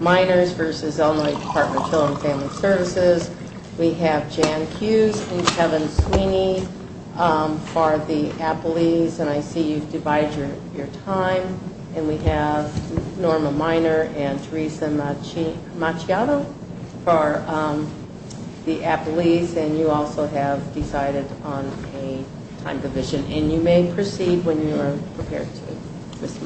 minors versus Illinois Department of Children and Family Services. We have Jan Cuse and Kevin Sweeney for the APLEES, and I see you've divided your time. And we have Norma Miner and Teresa Macciato for the APLEES, and you also have decided on a time division, and you may proceed when you are prepared to. Good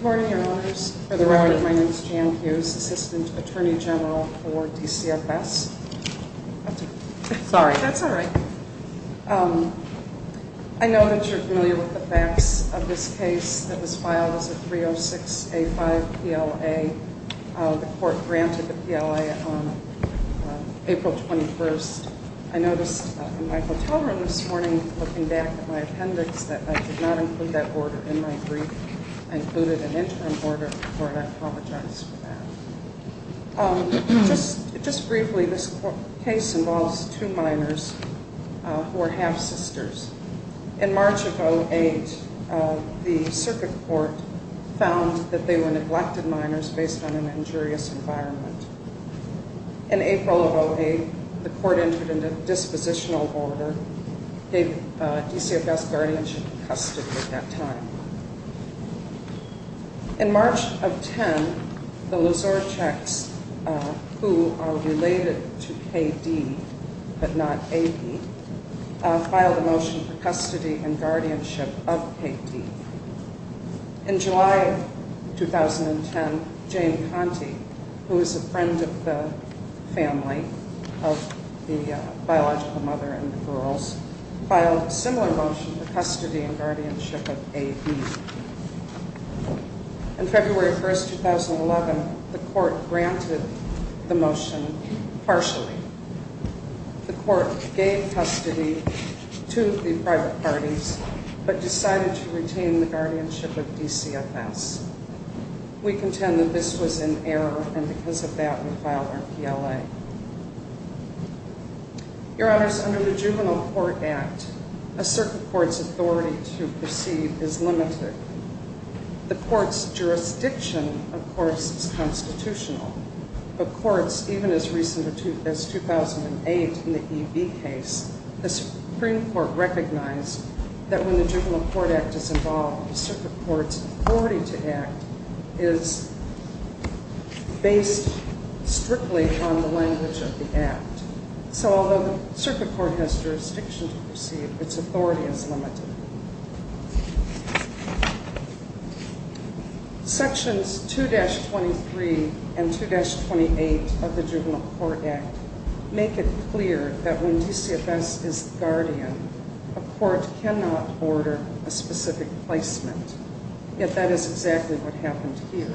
morning, Your Honors. For the record, my name is Jan Cuse, Assistant Attorney General for DCFS. Sorry. That's all right. I know that you're familiar with the facts of this case that was filed as a 306-A-5 PLA. The court granted the PLA on April 21st. I noticed in my hotel room this morning, looking back at my appendix, that I did not include that order in my brief. I included an interim order for it. I apologize for that. Just briefly, this case involves two minors who are half-sisters. In March of 2008, the circuit court found that they were neglected minors based on an injurious environment. In April of 2008, the court entered into dispositional order, gave DCFS guardianship and custody at that time. In March of 2010, the Lozorczaks, who are related to K.D., but not A.D., filed a motion for custody and guardianship of K.D. In July of 2010, Jane Conte, who is a friend of the family, of the biological mother and the girls, filed a similar motion for custody and guardianship of A.D. In February 1st, 2011, the court granted the motion partially. The court gave custody to the private parties, but decided to retain the guardianship of DCFS. We contend that this was an error, and because of that, we filed our PLA. Your Honors, under the Juvenile Court Act, a circuit court's authority to proceed is limited. The court's jurisdiction, of course, is constitutional. But courts, even as recent as 2008 in the E.B. case, the Supreme Court recognized that when the Juvenile Court Act is involved, the circuit court's authority to act is based strictly on the language of the act. So although the circuit court has jurisdiction to proceed, its authority is limited. Sections 2-23 and 2-28 of the Juvenile Court Act make it clear that when DCFS is the guardian, a court cannot order a specific placement. Yet that is exactly what happened here.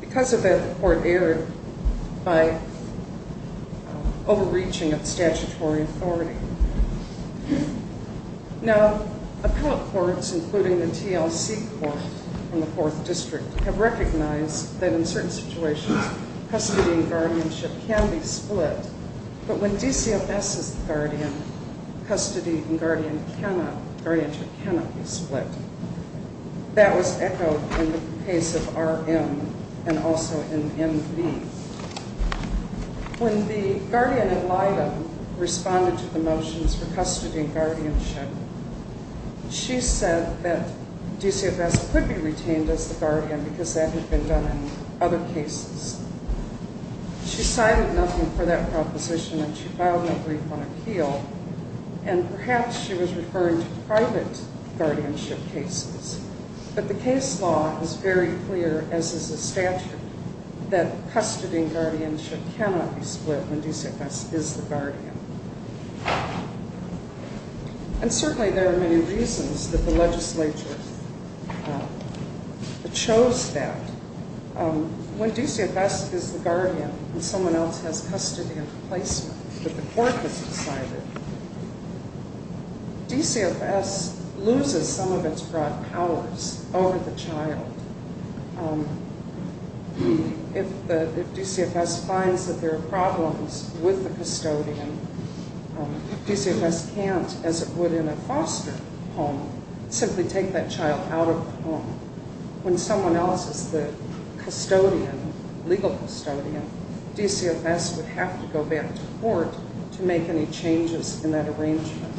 Because of that, the court erred by overreaching of statutory authority. Now, appellate courts, including the TLC Court in the 4th District, have recognized that in certain situations, custody and guardianship can be split. But when DCFS is the guardian, custody and guardianship cannot be split. That was echoed in the case of R.M. and also in M.D. When the guardian, Elida, responded to the motions for custody and guardianship, she said that DCFS could be retained as the guardian because that had been done in other cases. She cited nothing for that proposition and she filed a brief on appeal. And perhaps she was referring to private guardianship cases. But the case law is very clear, as is the statute, that custody and guardianship cannot be split when DCFS is the guardian. And certainly there are many reasons that the legislature chose that. When DCFS is the guardian and someone else has custody and placement, that the court has decided, DCFS loses some of its broad powers over the child. If DCFS finds that there are problems with the custodian, DCFS can't, as it would in a foster home, simply take that child out of the home. When someone else is the custodian, legal custodian, DCFS would have to go back to court to make any changes in that arrangement.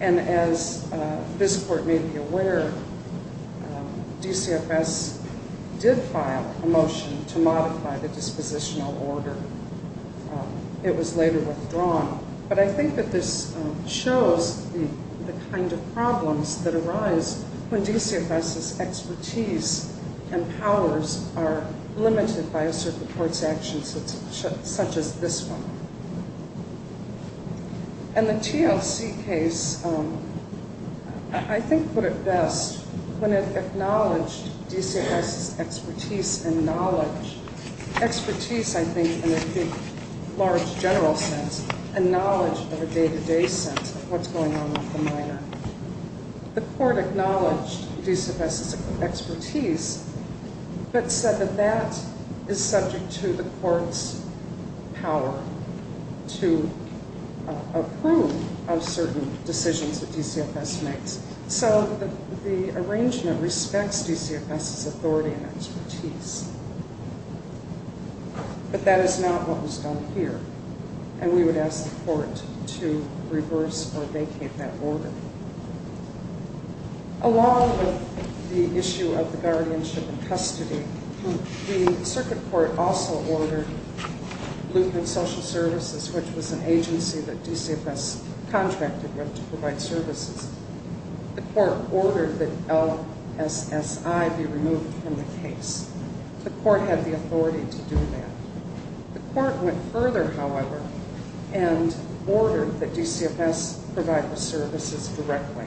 And as this court may be aware, DCFS did file a motion to modify the dispositional order. It was later withdrawn. But I think that this shows the kind of problems that arise when DCFS's expertise and powers are limited by a certain court's actions, such as this one. And the TLC case, I think, put it best when it acknowledged DCFS's expertise and knowledge. Expertise, I think, in a large general sense, and knowledge in a day-to-day sense of what's going on with the minor. The court acknowledged DCFS's expertise, but said that that is subject to the court's power to approve of certain decisions that DCFS makes. So the arrangement respects DCFS's authority and expertise. But that is not what was done here. And we would ask the court to reverse or vacate that order. Along with the issue of the guardianship and custody, the circuit court also ordered Luke and Social Services, which was an agency that DCFS contracted with to provide services. The court ordered that LSSI be removed from the case. The court had the authority to do that. The court went further, however, and ordered that DCFS provide the services directly.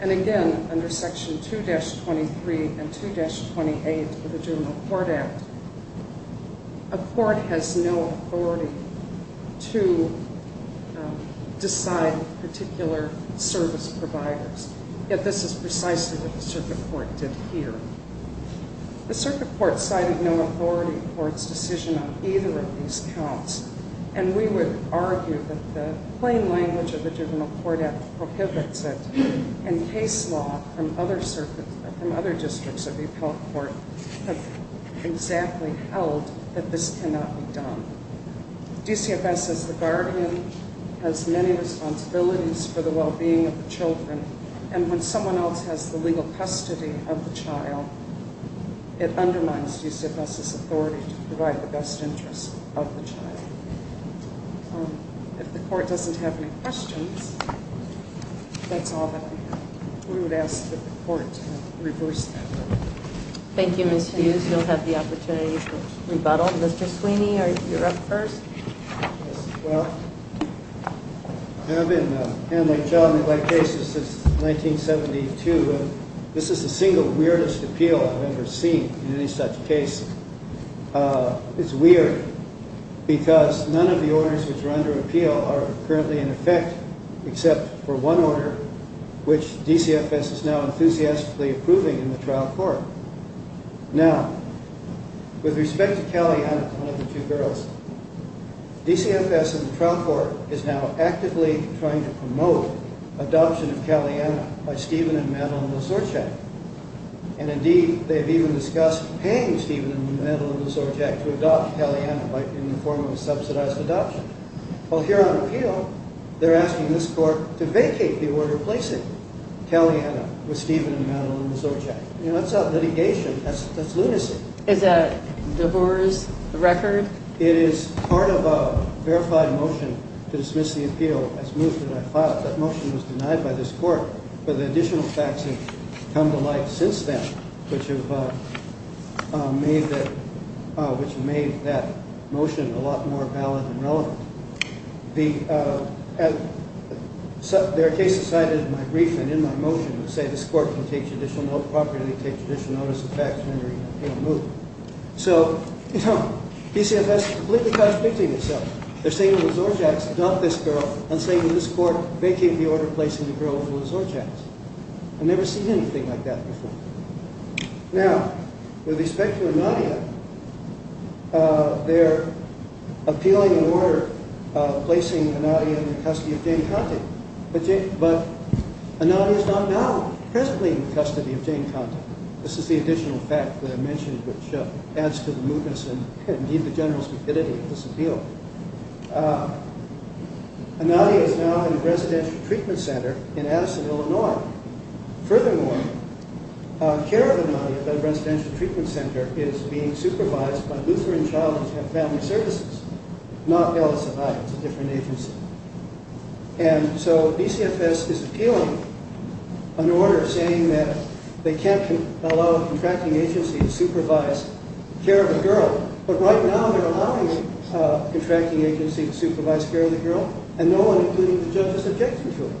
And again, under Section 2-23 and 2-28 of the Juvenile Court Act, a court has no authority to decide particular service providers. Yet this is precisely what the circuit court did here. The circuit court cited no authority for its decision on either of these counts. And we would argue that the plain language of the Juvenile Court Act prohibits it. And case law from other circuits and other districts of the appellate court have exactly held that this cannot be done. DCFS, as the guardian, has many responsibilities for the well-being of the children. And when someone else has the legal custody of the child, it undermines DCFS's authority to provide the best interest of the child. If the court doesn't have any questions, that's all that we have. We would ask that the court reverse that order. Thank you, Ms. Hughes. You'll have the opportunity for rebuttal. Mr. Sweeney, you're up first. Well, I've been handling child neglect cases since 1972, and this is the single weirdest appeal I've ever seen in any such case. It's weird, because none of the orders which are under appeal are currently in effect, except for one order, which DCFS is now enthusiastically approving in the trial court. Now, with respect to Caliana, one of the two girls, DCFS in the trial court is now actively trying to promote adoption of Caliana by Stephen and Madeline Lesorchek. And indeed, they've even discussed paying Stephen and Madeline Lesorchek to adopt Caliana in the form of a subsidized adoption. Well, here on appeal, they're asking this court to vacate the order placing Caliana with Stephen and Madeline Lesorchek. You know, that's not litigation. That's lunacy. Is that a divorce record? It is part of a verified motion to dismiss the appeal as moved and then filed. That motion was denied by this court, but the additional facts have come to light since then, which have made that motion a lot more valid and relevant. Their case is cited in my brief and in my motion to say this court will properly take additional notice of facts when the appeal is moved. So, you know, DCFS is completely contradicting itself. They're saying the Lesorcheks adopt this girl and saying this court vacated the order placing the girl with the Lesorcheks. I've never seen anything like that before. Now, with respect to Anadia, they're appealing an order placing Anadia in the custody of Jane Conte. But Anadia is not now presently in the custody of Jane Conte. This is the additional fact that I mentioned which adds to the mootness and, indeed, the general stupidity of this appeal. Anadia is now in a residential treatment center in Addison, Illinois. Now, furthermore, care of Anadia, the residential treatment center, is being supervised by Lutheran Child and Family Services, not LSI. It's a different agency. And so DCFS is appealing an order saying that they can't allow a contracting agency to supervise care of a girl. But right now they're allowing a contracting agency to supervise care of the girl and no one, including the judge, is objecting to it.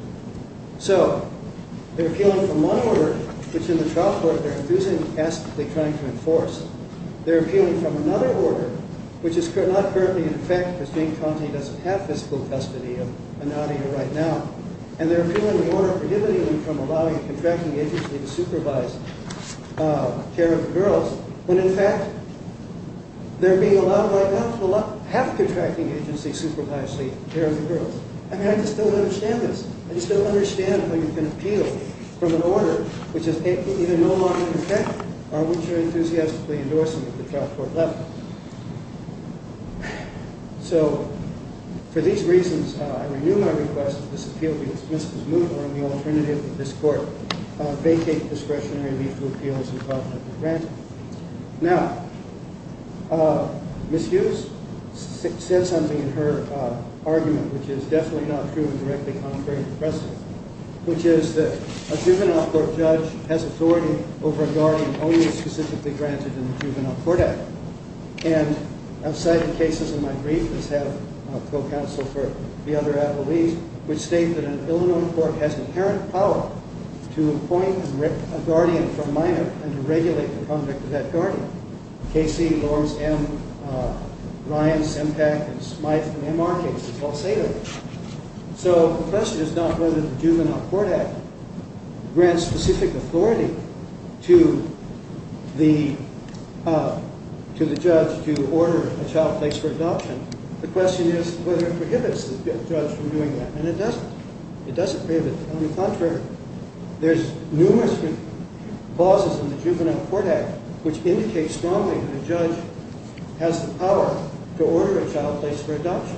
So, they're appealing from one order, which in the trial court they're refusing to ask, they're trying to enforce. They're appealing from another order, which is not currently in effect because Jane Conte doesn't have physical custody of Anadia right now. And they're appealing the order prohibiting them from allowing a contracting agency to supervise care of the girls when, in fact, they're being allowed right now to have a contracting agency supervise the care of the girls. I mean, I just don't understand this. I just don't understand how you can appeal from an order which is either no longer in effect or which you're enthusiastically endorsing at the trial court level. So, for these reasons, I renew my request that this appeal be dismissed as moot or, on the alternative of this court, vacate discretionary mutual appeals involved with the grant. Now, Ms. Hughes said something in her argument, which is definitely not true and directly contrary to the precedent, which is that a juvenile court judge has authority over a guardian only specifically granted in the Juvenile Court Act. And I've cited cases in my brief as head of co-counsel for the other at-large, which state that an ill-known court has the inherent power to appoint and rip a guardian from minor and to regulate the conduct of that guardian. Casey, Lawrence M., Ryan, Sempak, and Smythe in the MR case is all say that. So, the question is not whether the Juvenile Court Act grants specific authority to the judge to order a child placed for adoption. The question is whether it prohibits the judge from doing that. And it doesn't. It doesn't prohibit it. On the contrary, there's numerous clauses in the Juvenile Court Act which indicate strongly that a judge has the power to order a child placed for adoption.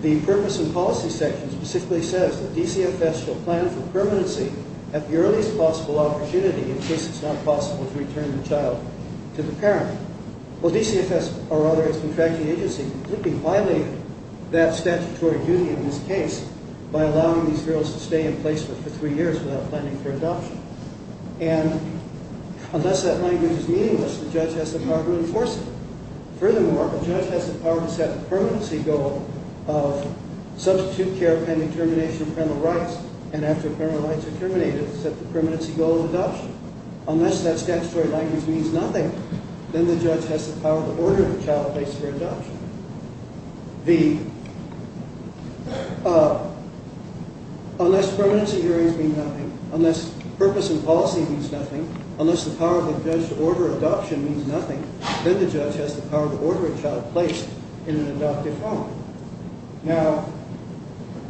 The purpose and policy section specifically says that DCFS shall plan for permanency at the earliest possible opportunity. Of course, it's not possible to return the child to the parent. Well, DCFS, or rather its contracting agency, could be violating that statutory duty in this case by allowing these girls to stay in placement for three years without planning for adoption. And unless that language is meaningless, the judge has the power to enforce it. Furthermore, the judge has the power to set the permanency goal of substitute care pending termination of parental rights, and after parental rights are terminated, set the permanency goal of adoption. Unless that statutory language means nothing, then the judge has the power to order the child placed for adoption. Unless permanency hearings mean nothing, unless purpose and policy means nothing, unless the power of the judge to order adoption means nothing, then the judge has the power to order a child placed in an adoptive home. Now,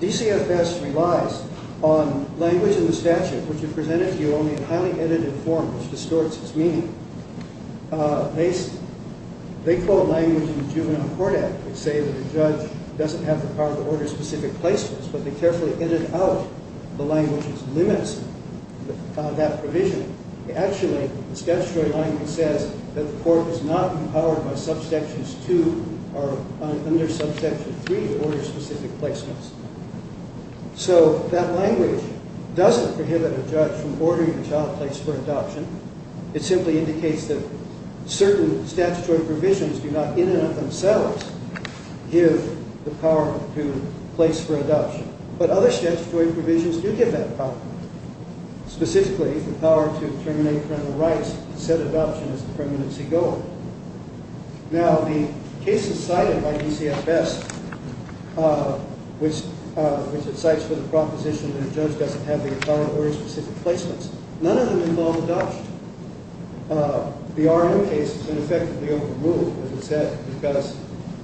DCFS relies on language in the statute which is presented to you only in highly edited form which distorts its meaning. They quote language in the Juvenile Court Act which says that the judge doesn't have the power to order specific placements, but they carefully edit out the language which limits that provision. Actually, the statutory language says that the court is not empowered by subsection 2 or under subsection 3 to order specific placements. So that language doesn't prohibit a judge from ordering a child placed for adoption. It simply indicates that certain statutory provisions do not in and of themselves give the power to place for adoption. But other statutory provisions do give that power, specifically the power to terminate parental rights and set adoption as the permanency goal. Now, the cases cited by DCFS which it cites for the proposition that a judge doesn't have the power to order specific placements, none of them involve adoption. The R.M. case has been effectively overruled, as it said, because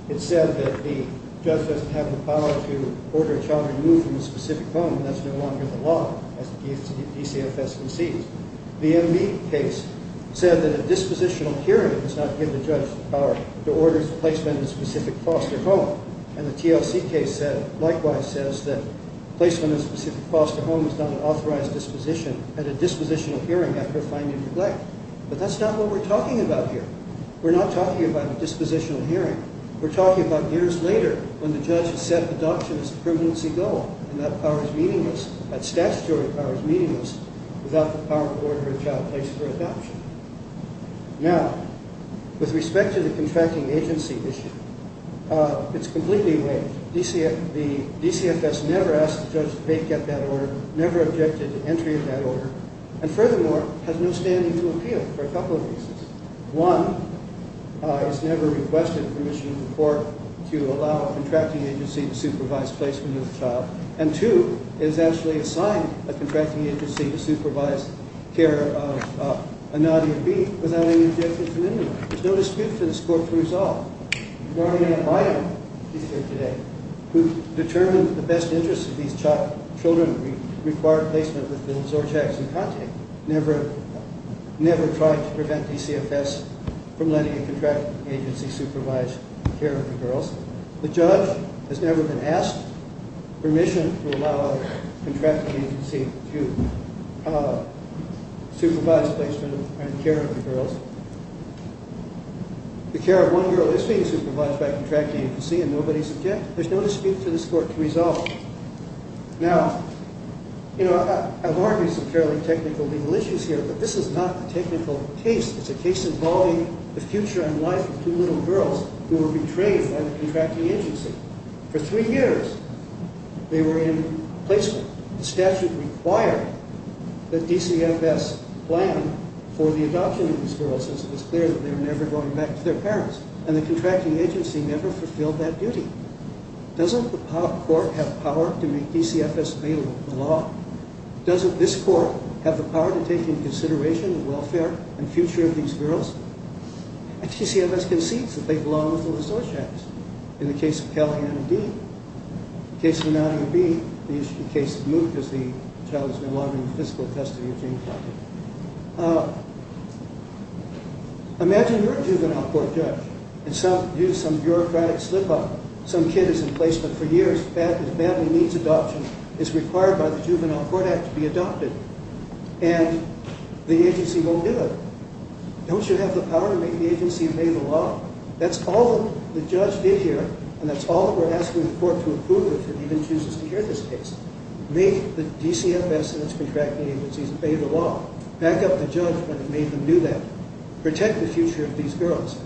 it said that the judge doesn't have the power to order a child removed from a specific home. That's no longer the law as DCFS concedes. The M.B. case said that a dispositional hearing does not give the judge the power to order placement in a specific foster home. And the TLC case likewise says that placement in a specific foster home is not an authorized disposition at a dispositional hearing after finding neglect. But that's not what we're talking about here. We're not talking about a dispositional hearing. We're talking about years later when the judge has set adoption as the permanency goal. And that power is meaningless. That statutory power is meaningless without the power to order a child placed for adoption. Now, with respect to the contracting agency issue, it's completely eroded. The DCFS never asked the judge to make up that order, never objected to entry of that order, and furthermore, has no standing to appeal for a couple of reasons. One, it's never requested permission from the court to allow a contracting agency to supervise placement of the child. And two, it was actually assigned a contracting agency to supervise care of Anadia B. without any objections from anyone. There's no dispute for this court to resolve. Gloria Amaya, who's here today, who determined that the best interest of these children required placement with the Zorchaks and Conte, never tried to prevent DCFS from letting a contracting agency supervise care of the girls. The judge has never been asked permission to allow a contracting agency to supervise placement and care of the girls. The care of one girl is being supervised by a contracting agency and nobody's objecting. There's no dispute for this court to resolve. Now, you know, I've argued some fairly technical legal issues here, but this is not a technical case. It's a case involving the future and life of two little girls who were betrayed by the contracting agency. For three years, they were in placement. The statute required that DCFS plan for the adoption of these girls, as it was clear that they were never going back to their parents. And the contracting agency never fulfilled that duty. Doesn't the court have power to make DCFS available to the law? Doesn't this court have the power to take into consideration the welfare and future of these girls? And DCFS concedes that they belong with the Zorchaks. In the case of Callahan and Dee, in the case of Nadia Bee, the issue of the case of Moot, because the child has been wandering the physical custody of Jane Conte. Imagine you're a juvenile court judge, and some bureaucratic slip-up, some kid is in placement for years, his family needs adoption, is required by the Juvenile Court Act to be adopted. And the agency won't do it. Don't you have the power to make the agency obey the law? That's all the judge did here, and that's all that we're asking the court to approve if it even chooses to hear this case. Make the DCFS and its contracting agencies obey the law. Back up the judge when it made them do that. Protect the future of these girls.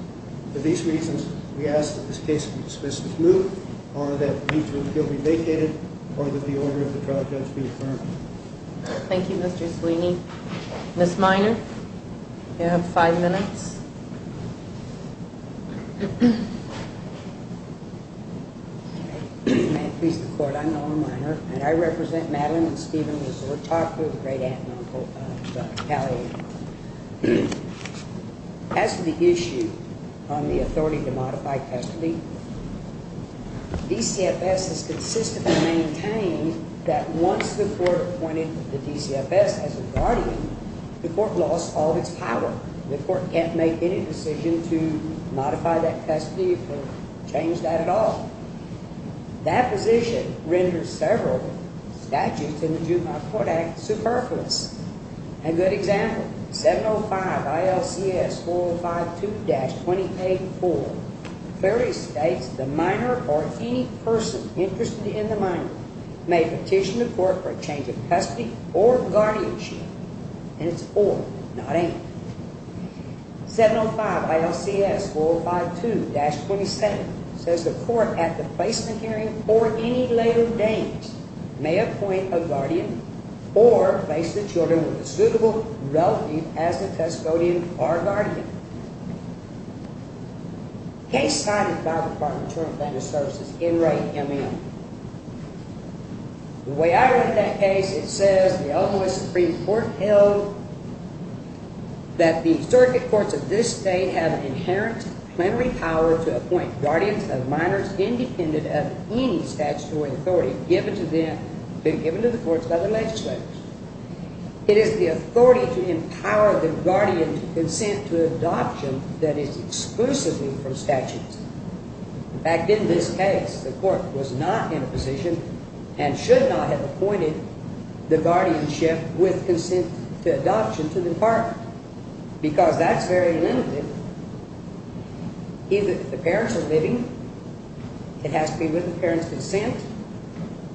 For these reasons, we ask that this case be dismissed as Moot, or that the case will still be vacated, or that the order of the trial judge be affirmed. Thank you, Mr. Sweeney. Ms. Miner, you have five minutes. May it please the court, I'm Noah Miner, and I represent Madeline and Stephen Zorchak, the great aunt and uncle of Callahan. As for the issue on the authority to modify custody, DCFS has consistently maintained that once the court appointed the DCFS as a guardian, the court lost all of its power. The court can't make any decision to modify that custody or change that at all. That position renders several statutes in the Juvenile Court Act superfluous. A good example, 705 ILCS 4052-28-4, clearly states the miner or any person interested in the miner may petition the court for a change of custody or guardianship, and it's or, not and. 705 ILCS 4052-27 says the court at the placement hearing for any later days may appoint a guardian or place the children with a suitable relative as the custodian or guardian. Case cited by the Department of Maternal and Family Services, NREA-MN. The way I read that case, it says the Illinois Supreme Court held that the circuit courts of this state have an inherent plenary power to appoint guardians of minors independent of any statutory authority given to them, been given to the courts by the legislators. It is the authority to empower the guardian to consent to adoption that is exclusively from statutes. In fact, in this case, the court was not in a position and should not have appointed the guardianship with consent to adoption to the department because that's very limited. Either the parents are living, it has to be with the parents' consent,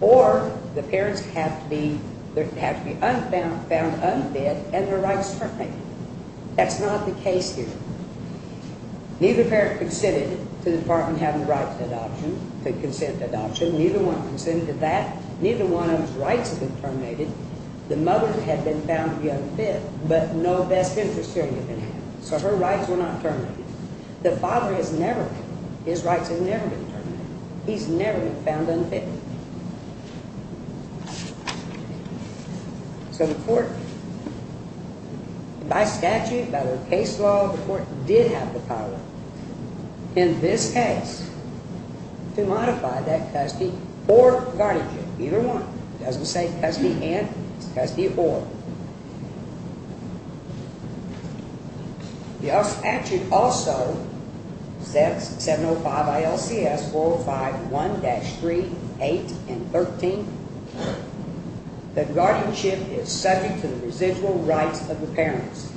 or the parents have to be found unfed and their rights terminated. That's not the case here. Neither parent consented to the department having the right to adoption, to consent to adoption. Neither one consented to that. Neither one of those rights had been terminated. The mother had been found unfed, but no best interest hearing had been had. So her rights were not terminated. The father has never been. His rights have never been terminated. He's never been found unfed. So the court, by statute, by the case law, the court did have the power in this case to modify that custody or guardianship, either one. It doesn't say custody and, it's custody or. The statute also says, 705 ILCS 405 1-3813, that guardianship is subject to the residual rights of the parents.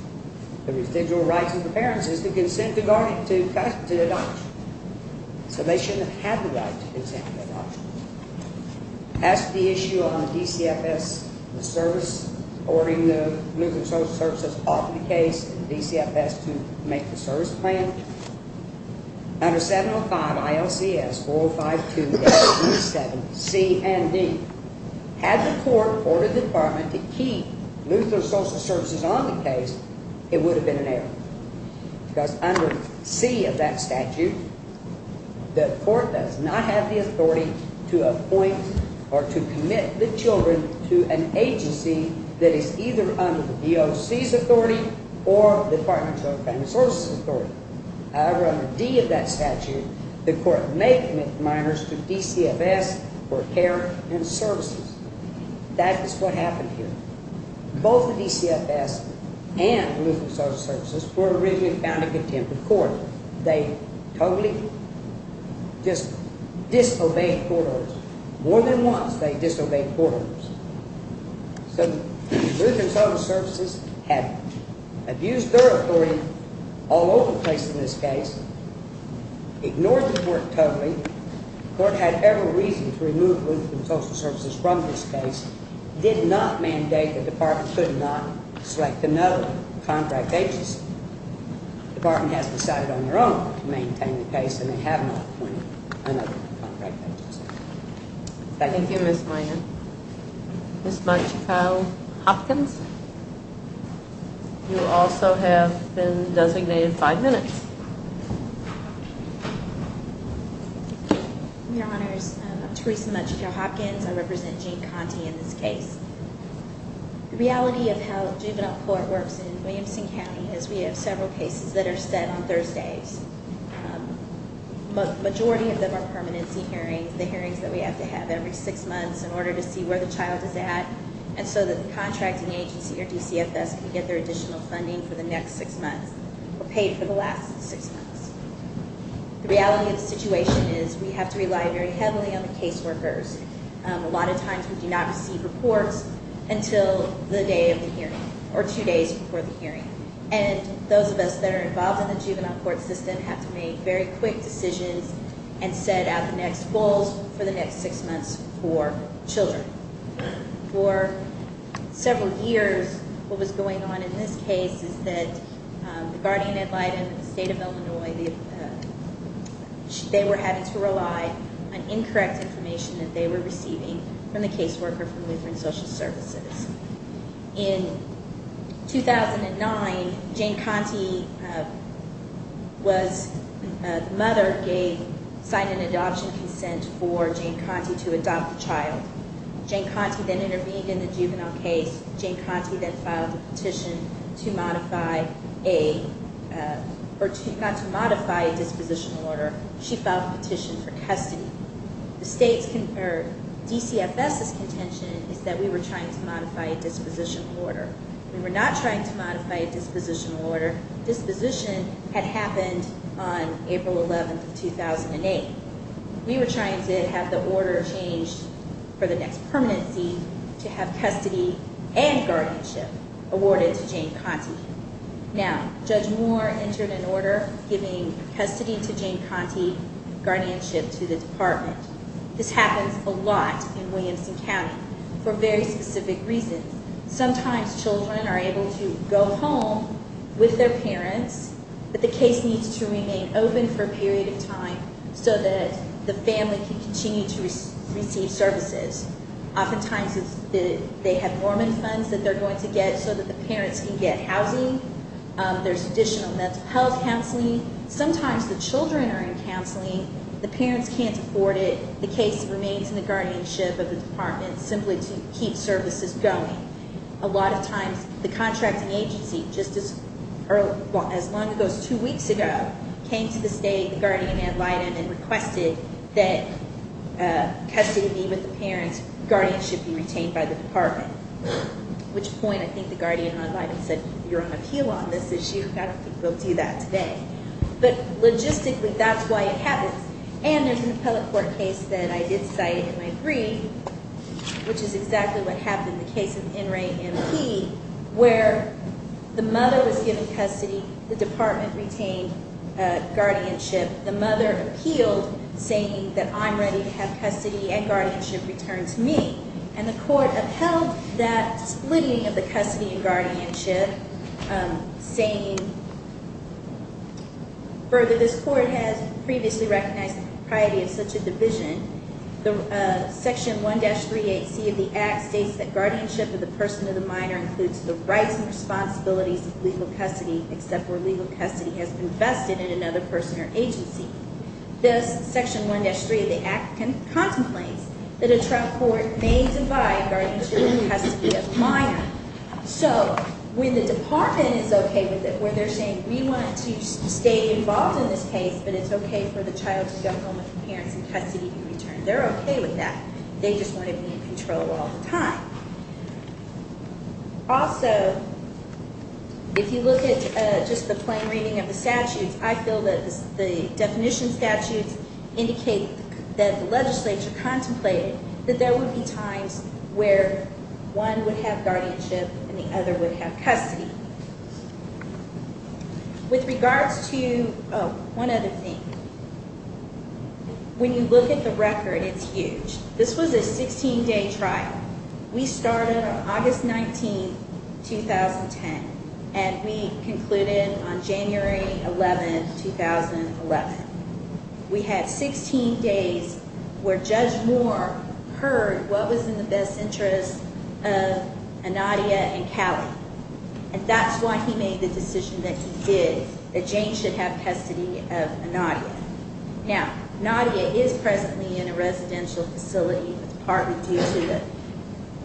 The residual rights of the parents is to consent to adoption. So they shouldn't have the right to consent to adoption. That's the issue on the DCFS, the service ordering the Lutheran Social Services off the case, and the DCFS to make the service plan. Under 705 ILCS 405 2-27-C and D, had the court ordered the department to keep Lutheran Social Services on the case, it would have been an error. Because under C of that statute, the court does not have the authority to appoint or to commit the children to an agency that is either under the DOC's authority or the Department of Children and Family Services authority. However, under D of that statute, the court may commit minors to DCFS for care and services. That is what happened here. Both the DCFS and Lutheran Social Services were originally found in contempt of court. They totally just disobeyed court orders. More than once they disobeyed court orders. So Lutheran Social Services had abused their authority all over the place in this case, ignored the court totally, the court had every reason to remove Lutheran Social Services from this case, did not mandate the department could not select another contract agency. The department has decided on their own to maintain the case and they have not appointed another contract agency. Thank you. Thank you, Ms. Minor. Ms. Munchekow-Hopkins, you also have been designated five minutes. Your Honors, I'm Theresa Munchekow-Hopkins. I represent Jane Conte in this case. The reality of how juvenile court works in Williamson County is we have several cases that are set on Thursdays. The majority of them are permanency hearings, the hearings that we have to have every six months in order to see where the child is at and so that the contracting agency or DCFS can get their additional funding for the next six months or pay for the last six months. The reality of the situation is we have to rely very heavily on the case workers. A lot of times we do not receive reports until the day of the hearing or two days before the hearing. Those of us that are involved in the juvenile court system have to make very quick decisions and set out the next goals for the next six months for children. For several years, what was going on in this case is that the guardian ad litem in the state of Illinois, they were having to rely on incorrect information that they were receiving from the case worker from Lutheran Social Services. In 2009, Jane Conte was, the mother gave, signed an adoption consent for Jane Conte to adopt the child. Jane Conte then intervened in the juvenile case. Jane Conte then filed a petition to modify a, or not to modify a dispositional order. She filed a petition for custody. The state's DCFS's contention is that we were trying to modify a dispositional order. We were not trying to modify a dispositional order. This position had happened on April 11th of 2008. We were trying to have the order changed for the next permanency to have custody and guardianship awarded to Jane Conte. Now, Judge Moore entered an order giving custody to Jane Conte, guardianship to the department. This happens a lot in Williamson County for very specific reasons. Sometimes children are able to go home with their parents, but the case needs to remain open for a period of time so that the family can continue to receive services. Oftentimes they have Mormon funds that they're going to get so that the parents can get housing. There's additional mental health counseling. Sometimes the children are in counseling. The parents can't afford it. The case remains in the guardianship of the department simply to keep services going. A lot of times the contracting agency as long ago as two weeks ago came to the state, the guardian ad litem, and requested that custody be with the parents. Guardianship be retained by the department, which point I think the guardian ad litem said you're on appeal on this issue. I don't think we'll do that today. But logistically, that's why it happens. And there's an appellate court case that I did cite in my brief, which is exactly what happened in the case of N. Ray MP where the mother was given custody. The department retained guardianship. The mother appealed saying that I'm ready to have custody and guardianship returned to me. And the court upheld that splitting of the custody and guardianship, saying further this court has previously recognized the propriety of such a division. Section 1-38C of the Act states that guardianship of the person of the minor includes the rights and responsibilities of legal custody except where legal custody has been vested in another person or agency. This, Section 1-3 of the Act contemplates that a trial court may divide guardianship and custody of the minor. So when the department is okay with it, where they're saying we want to stay involved in this case, but it's okay for the child to go home with the parents and custody to be returned, they're okay with that. Also, if you look at just the plain reading of the statutes, I feel that the definition statutes indicate that the legislature contemplated that there would be times where one would have guardianship and the other would have custody. With regards to, oh, one other thing. When you look at the record, it's huge. This was a 16-day trial. We started on August 19, 2010, and we concluded on January 11, 2011. We had 16 days where Judge Moore heard what was in the best interest of Anadia and Callie, and that's why he made the decision that he did, that Jane should have custody of Anadia. Now, Anadia is presently in a residential facility with the Department of Justice. She had a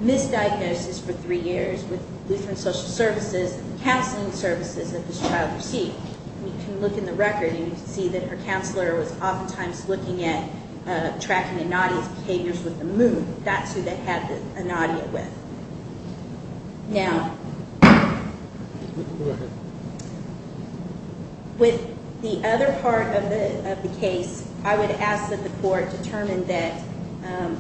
misdiagnosis for three years with Lutheran Social Services and the counseling services that this child received. You can look in the record and you can see that her counselor was oftentimes looking at tracking Anadia's behaviors with the moon. That's who they had Anadia with. Now, with the other part of the case, I would ask that the court determine that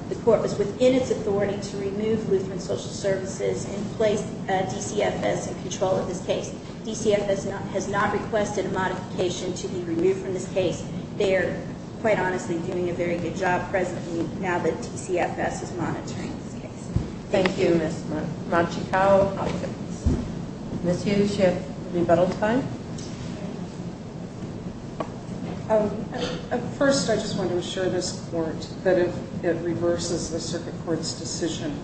the court was within its authority to remove Lutheran Social Services and place DCFS in control of this case. DCFS has not requested a modification to be removed from this case. They are, quite honestly, doing a very good job presently now that DCFS is monitoring this case. Thank you, Ms. Machikow. Ms. Hughes, you have rebuttal time. First, I just want to assure this court that if it reverses the circuit court's decision,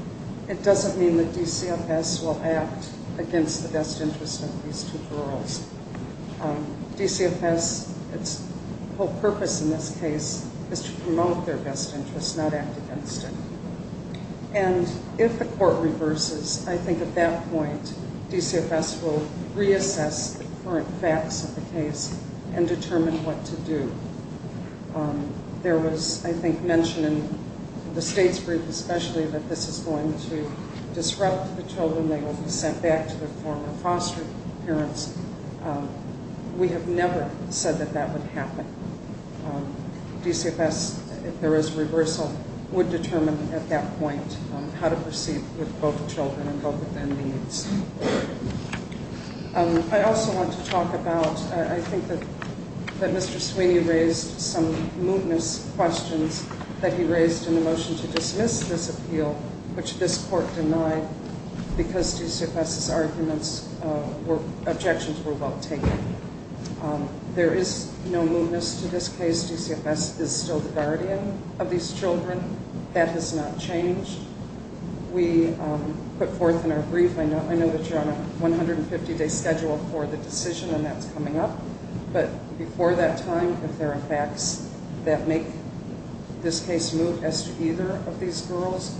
it doesn't mean that DCFS will act against the best interest of these two girls. DCFS, its whole purpose in this case is to promote their best interest, not act against it. And if the court reverses, I think at that point, DCFS will reassess the current facts of the case and determine what to do. There was, I think, mentioned in the state's brief especially that this is going to disrupt the children. They will be sent back to their former foster parents. We have never said that that would happen. DCFS, if there is reversal, would determine at that point how to proceed with both children and both of their needs. I also want to talk about, I think that Mr. Sweeney raised some mootness questions that he raised in the motion to dismiss this appeal, which this court denied because DCFS's objections were well taken. There is no mootness to this case. DCFS is still the guardian of these children. That has not changed. We put forth in our brief, I know that you're on a 150-day schedule for the decision and that's coming up, but before that time, if there are facts that make this case moot as to either of these girls,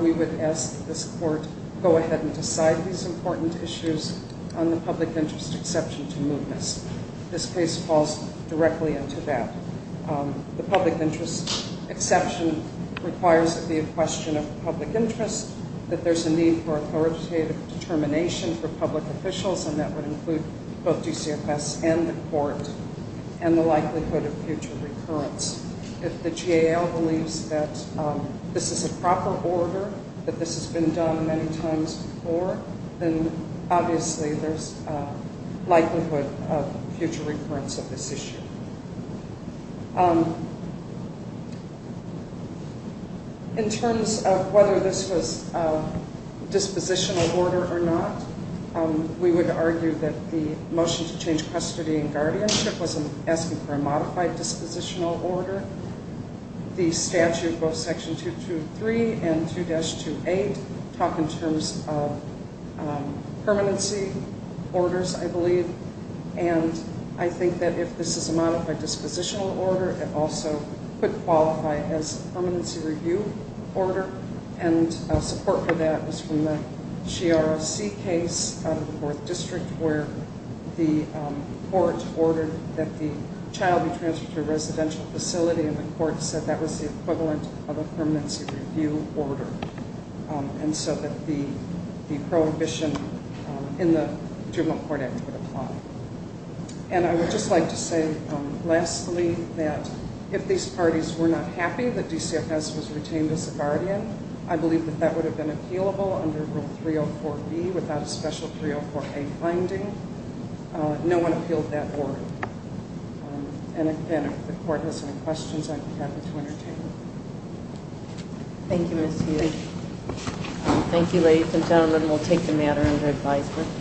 we would ask this court to go ahead and decide these important issues on the public interest exception to mootness. This case falls directly into that. The public interest exception requires it be a question of public interest, that there's a need for authoritative determination for public officials and that would include both DCFS and the court and the likelihood of future recurrence. If the GAL believes that this is a proper order, that this has been done many times before, then obviously there's likelihood of future recurrence of this issue. In terms of whether this was dispositional order or not, we would argue that the motion to change custody and guardianship was asking for a modified dispositional order. The statute, both Section 223 and 2-28, talk in terms of permanency orders, I believe, and I think that if this is a modified dispositional order, it also could qualify as a permanency review order and support for that was from the C case of the 4th District where the court ordered that the child be transferred to a residential facility and the court said that was the equivalent of a permanency review order and so that the prohibition in the juvenile court act would apply. And I would just like to say, lastly, that if these parties were not happy that DCFS was retained as a guardian, I believe that that would have been appealable under Rule 304B without a special 304A finding. No one appealed that order. And again, if the court has any questions, I'd be happy to entertain them. Thank you, Ms. Hughes. Thank you ladies and gentlemen. We'll take the matter under advisement.